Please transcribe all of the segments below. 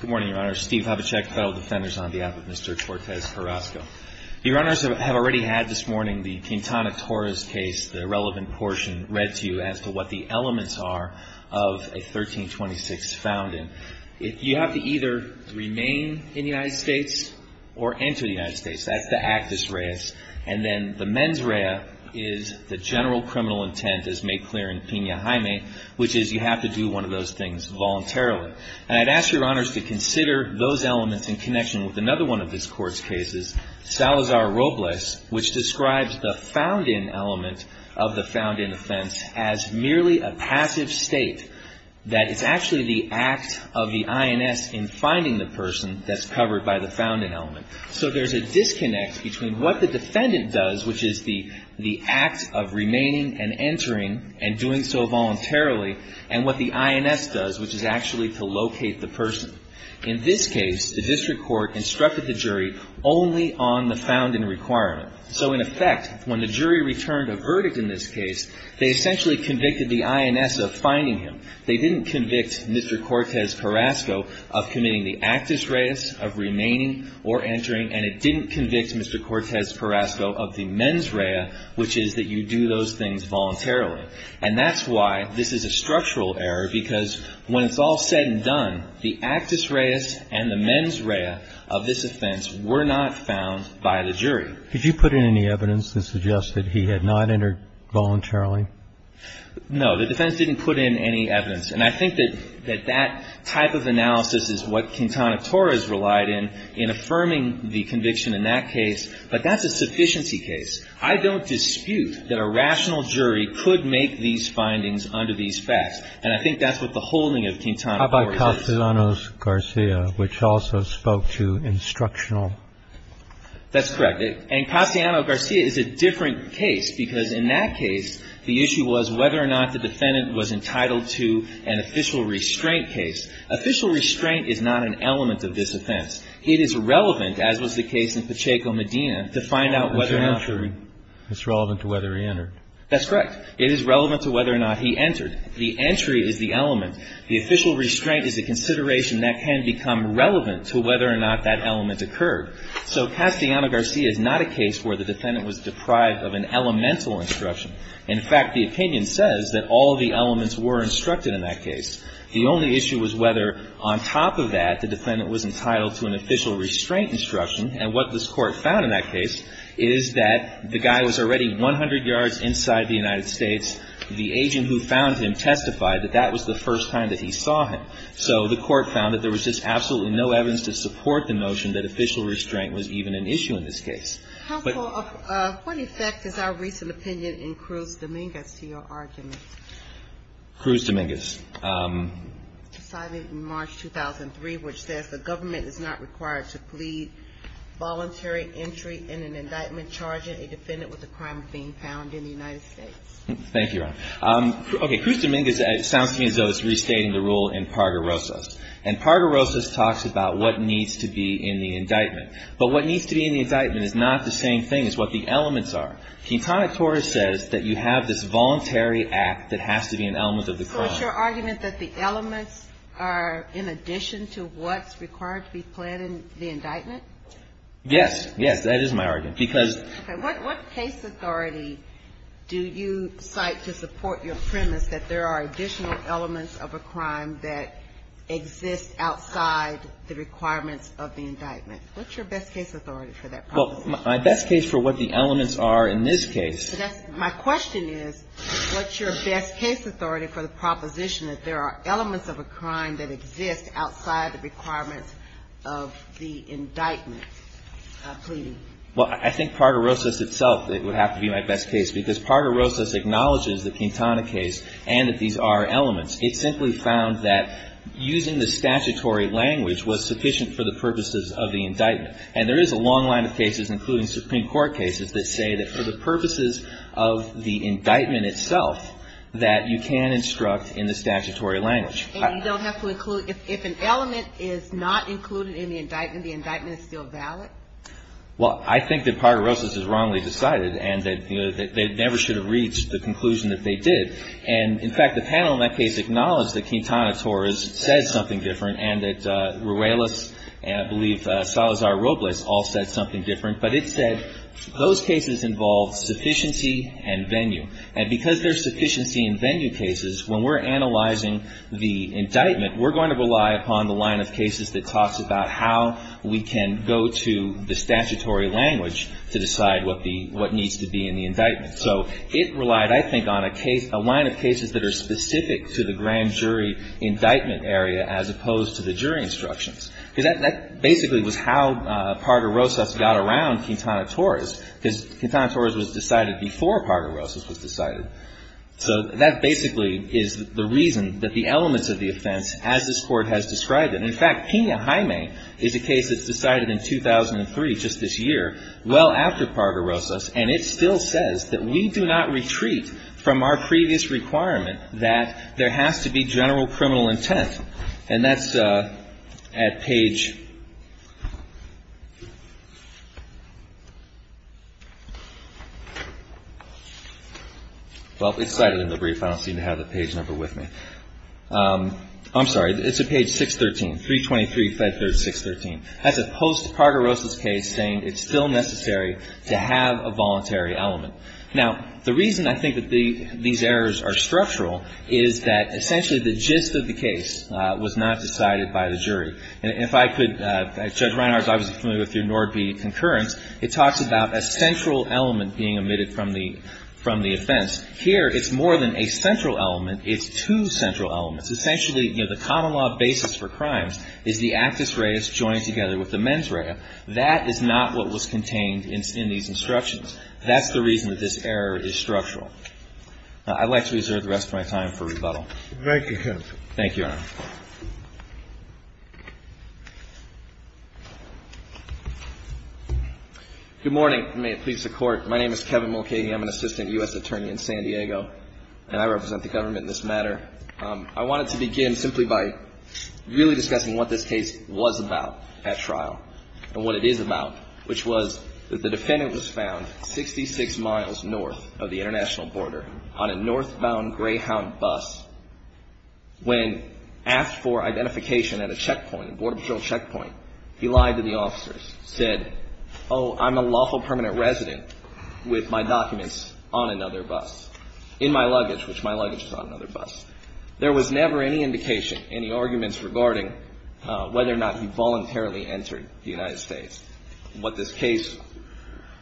Good morning, Your Honor. Steve Havacek, Federal Defenders, on behalf of Mr. Cortez-Carrasco. Your Honor, I have already had this morning the Quintana Torres case, the relevant portion, read to you as to what the elements are of a 1326 found in. You have to either remain in the United States or enter the United States. That's the actus reus. And then the mens rea is the general criminal intent, as made clear in Pena Jaime, which is you have to do one of those things voluntarily. And I'd ask Your Honors to consider those elements in connection with another one of this Court's cases, Salazar-Robles, which describes the found in element of the found in offense as merely a passive state, that is actually the act of the INS in finding the person that's covered by the found in element. So there's a disconnect between what the defendant does, which is the act of remaining and entering and doing so voluntarily, and what the INS does, which is actually to locate the person. In this case, the district court instructed the jury only on the found in requirement. So in effect, when the jury returned a verdict in this case, they essentially convicted the INS of finding him. They didn't convict Mr. Cortez-Carrasco of committing the actus reus, of remaining or entering, and it didn't convict Mr. Cortez-Carrasco of the mens rea, which is that you do those things voluntarily. And that's why this is a structural error, because when it's all said and done, the actus reus and the mens rea of this offense were not found by the jury. Could you put in any evidence that suggested he had not entered voluntarily? No. The defense didn't put in any evidence. And I think that that type of analysis is what Quintana Torres relied in, in affirming the conviction in that case. But that's a sufficiency case. I don't dispute that a rational jury could make these findings under these facts. And I think that's what the holding of Quintana Torres is. How about Castellanos-Garcia, which also spoke to instructional? That's correct. And Castellanos-Garcia is a different case, because in that case, the issue was whether or not the defendant was entitled to an official restraint case. Official restraint is not an element of this offense. It is relevant, as was the case in Pacheco-Medina, to find out whether or not the ---- It's relevant to whether he entered. That's correct. It is relevant to whether or not he entered. The entry is the element. The official restraint is a consideration that can become relevant to whether or not that element occurred. So Castellanos-Garcia is not a case where the defendant was deprived of an elemental instruction. In fact, the opinion says that all of the elements were instructed in that case. The only issue was whether, on top of that, the defendant was entitled to an official restraint instruction. And what this Court found in that case is that the guy was already 100 yards inside the United States. The agent who found him testified that that was the first time that he saw him. So the Court found that there was just absolutely no evidence to support the notion that official restraint was even an issue in this case. But ---- What effect is our recent opinion in Cruz-Dominguez to your argument? Cruz-Dominguez. Decided in March 2003, which says the government is not required to plead voluntary entry in an indictment charging a defendant with a crime of being found in the United States. Thank you, Your Honor. Okay. Cruz-Dominguez sounds to me as though it's restating the rule in Parga-Rosas. And Parga-Rosas talks about what needs to be in the indictment. But what needs to be in the indictment is not the same thing as what the elements are. Keatonic Torres says that you have this voluntary act that has to be an element of the crime. So is your argument that the elements are in addition to what's required to be pled in the indictment? Yes. Yes, that is my argument. Because ---- Okay. What case authority do you cite to support your premise that there are additional elements of a crime that exist outside the requirements of the indictment? What's your best case authority for that proposition? Well, my best case for what the elements are in this case ---- My question is, what's your best case authority for the proposition that there are elements of a crime that exist outside the requirements of the indictment pleading? Well, I think Parga-Rosas itself would have to be my best case. Because Parga-Rosas acknowledges the Quintana case and that these are elements. It simply found that using the statutory language was sufficient for the purposes of the indictment. And there is a long line of cases, including Supreme Court cases, that say that for the purposes of the indictment itself that you can instruct in the statutory language. And you don't have to include ---- If an element is not included in the indictment, the indictment is still valid? Well, I think that Parga-Rosas is wrongly decided and that they never should have reached the conclusion that they did. And, in fact, the panel in that case acknowledged that Quintana Torres said something different and that Ruelas and, I believe, Salazar-Robles all said something different. But it said those cases involve sufficiency and venue. And because there's sufficiency in venue cases, when we're analyzing the indictment, we're going to rely upon the line of cases that talks about how we can go to the statutory language to decide what the ---- what needs to be in the indictment. So it relied, I think, on a case ---- a line of cases that are specific to the grand jury indictment area as opposed to the jury instructions. Because that basically was how Parga-Rosas got around Quintana Torres, because Quintana Torres was decided before Parga-Rosas was decided. So that basically is the reason that the elements of the offense, as this Court has described it and, in fact, Pena-Jaime is a case that's decided in 2003, just this year, well after Parga-Rosas. And it still says that we do not retreat from our previous requirement that there has to be general criminal intent. And that's at page ---- well, it's cited in the brief. I don't seem to have the page number with me. I'm sorry. It's at page 613, 323, 5-3-613. That's a post-Parga-Rosas case saying it's still necessary to have a voluntary element. Now, the reason I think that these errors are structural is that essentially the gist of the case was not decided by the jury. And if I could ---- Judge Reinhardt is obviously familiar with your Nord v. Concurrence. It talks about a central element being omitted from the offense. Here it's more than a central element. It's two central elements. Essentially, you know, the common law basis for crimes is the actus reus joined together with the mens rea. That is not what was contained in these instructions. That's the reason that this error is structural. I'd like to reserve the rest of my time for rebuttal. Thank you, counsel. Thank you, Your Honor. Good morning. May it please the Court. My name is Kevin Mulcahy. I'm an assistant U.S. attorney in San Diego, and I represent the government in this matter. I wanted to begin simply by really discussing what this case was about at trial and what it is about, which was that the defendant was found 66 miles north of the international border on a northbound Greyhound bus. When asked for identification at a checkpoint, a border patrol checkpoint, he lied to the officers, said, oh, I'm a lawful permanent resident with my documents on another bus, in my luggage, which my luggage is on another bus. There was never any indication, any arguments regarding whether or not he voluntarily entered the United States and what this case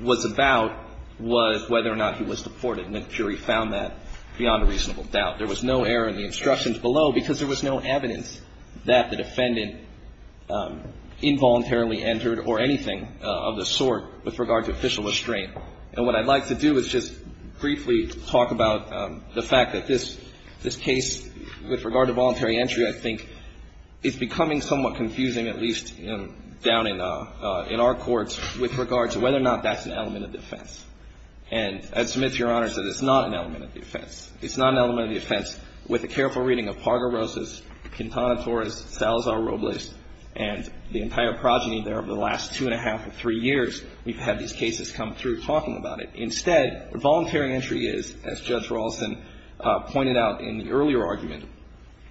was about was whether or not he was deported. And then the jury found that beyond a reasonable doubt. There was no error in the instructions below because there was no evidence that the defendant involuntarily entered or anything of the sort with regard to official restraint. And what I'd like to do is just briefly talk about the fact that this case, with regard to voluntary entry, I think is becoming somewhat confusing, at least down in our courts, with regard to whether or not that's an element of defense. And Ed Smith, Your Honor, said it's not an element of defense. It's not an element of defense with a careful reading of Parga-Rosas, Quintana Torres, Salazar-Robles, and the entire progeny there over the last two and a half or three years we've had these cases come through talking about it. Instead, what voluntary entry is, as Judge Rawlston pointed out in the earlier argument,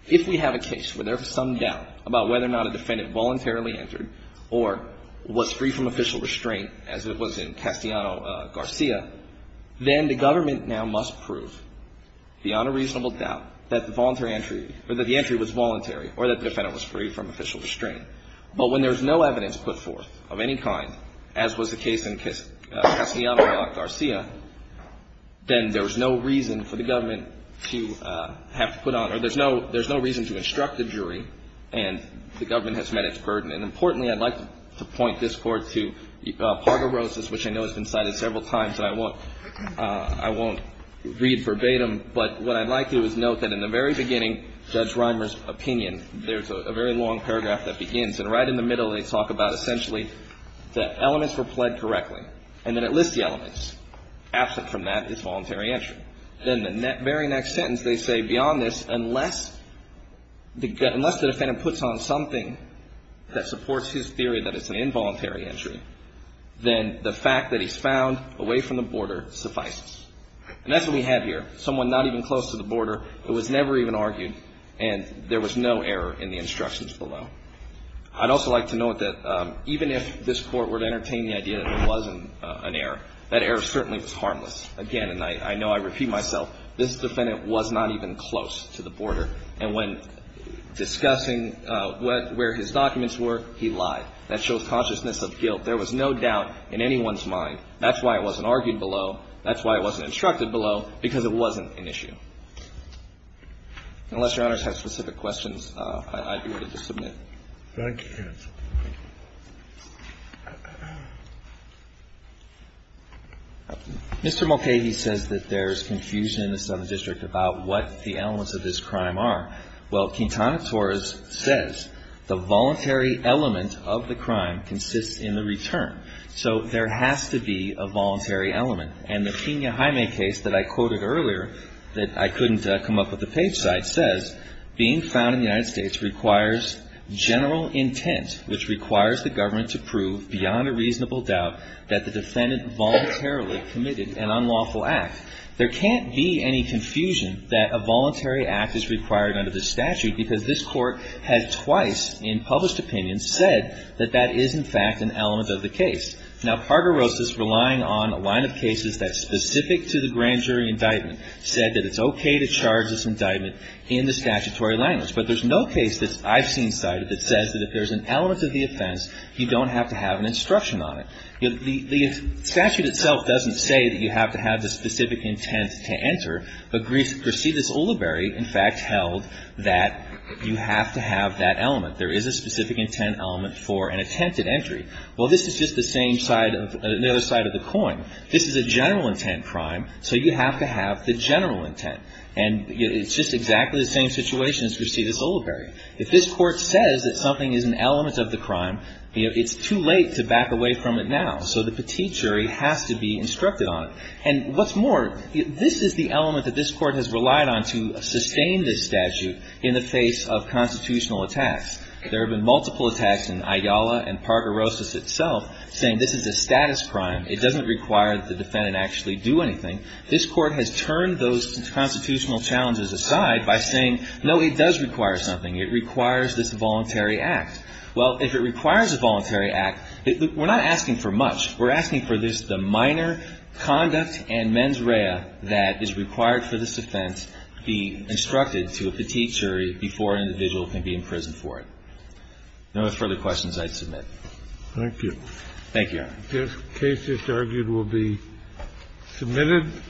if we have a case where there's some doubt about whether or not a defendant voluntarily entered or was free from official restraint as it was in Castellano-Garcia, then the government now must prove beyond a reasonable doubt that the voluntary entry or that the entry was voluntary or that the defendant was free from official restraint. But when there's no evidence put forth of any kind, as was the case in Castellano-Garcia, then there's no reason for the government to have to put on or there's no reason to instruct a jury and the government has met its burden. And importantly, I'd like to point this Court to Parga-Rosas, which I know has been cited several times, and I won't read verbatim, but what I'd like to do is note that in the very beginning, Judge Reimer's opinion, there's a very long paragraph that begins. And right in the middle, they talk about essentially that elements were pled correctly and then it lists the elements. Absent from that is voluntary entry. Then the very next sentence, they say beyond this, unless the defendant puts on something that supports his theory that it's an involuntary entry, then the fact that he's found away from the border suffices. And that's what we have here, someone not even close to the border who was never even argued and there was no error in the instructions below. I'd also like to note that even if this Court were to entertain the idea that it wasn't an error, that error certainly was harmless. Again, and I know I repeat myself, this defendant was not even close to the border and when discussing where his documents were, he lied. That shows consciousness of guilt. There was no doubt in anyone's mind. That's why it wasn't argued below. That's why it wasn't instructed below, because it wasn't an issue. Unless Your Honors have specific questions, I'd be willing to submit. Thank you. Mr. Mulcahy says that there's confusion in the Southern District about what the elements of this crime are. Well, Quintana Torres says the voluntary element of the crime consists in the return. So there has to be a voluntary element. And the Kenya Jaime case that I quoted earlier that I couldn't come up with a page site says, being found in the United States requires general intent, which requires the government to prove beyond a reasonable doubt that the defendant voluntarily committed an unlawful act. There can't be any confusion that a voluntary act is required under this statute because this Court has twice in published opinions said that that is in fact an element of the case. Now, Carter-Rosas, relying on a line of cases that's specific to the grand jury indictment, said that it's okay to charge this indictment in the statutory language. But there's no case that I've seen cited that says that if there's an element of the offense, you don't have to have an instruction on it. The statute itself doesn't say that you have to have the specific intent to enter, but Grisidis Ulibarri, in fact, held that you have to have that element. There is a specific intent element for an attempted entry. Well, this is just the same side of another side of the coin. This is a general intent crime, so you have to have the general intent. And it's just exactly the same situation as Grisidis Ulibarri. If this Court says that something is an element of the crime, you know, it's too late to back away from it now. So the petite jury has to be instructed on it. And what's more, this is the element that this Court has relied on to sustain this statute in the face of constitutional attacks. There have been multiple attacks in Ayala and Pargorosis itself saying this is a status crime. It doesn't require that the defendant actually do anything. This Court has turned those constitutional challenges aside by saying, no, it does require something. It requires this voluntary act. Well, if it requires a voluntary act, we're not asking for much. We're asking for just the minor conduct and mens rea that is required for this offense to be instructed to a petite jury before an individual can be imprisoned for it. If there are no further questions, I'd submit. Thank you. Thank you, Your Honor. This case is argued will be submitted.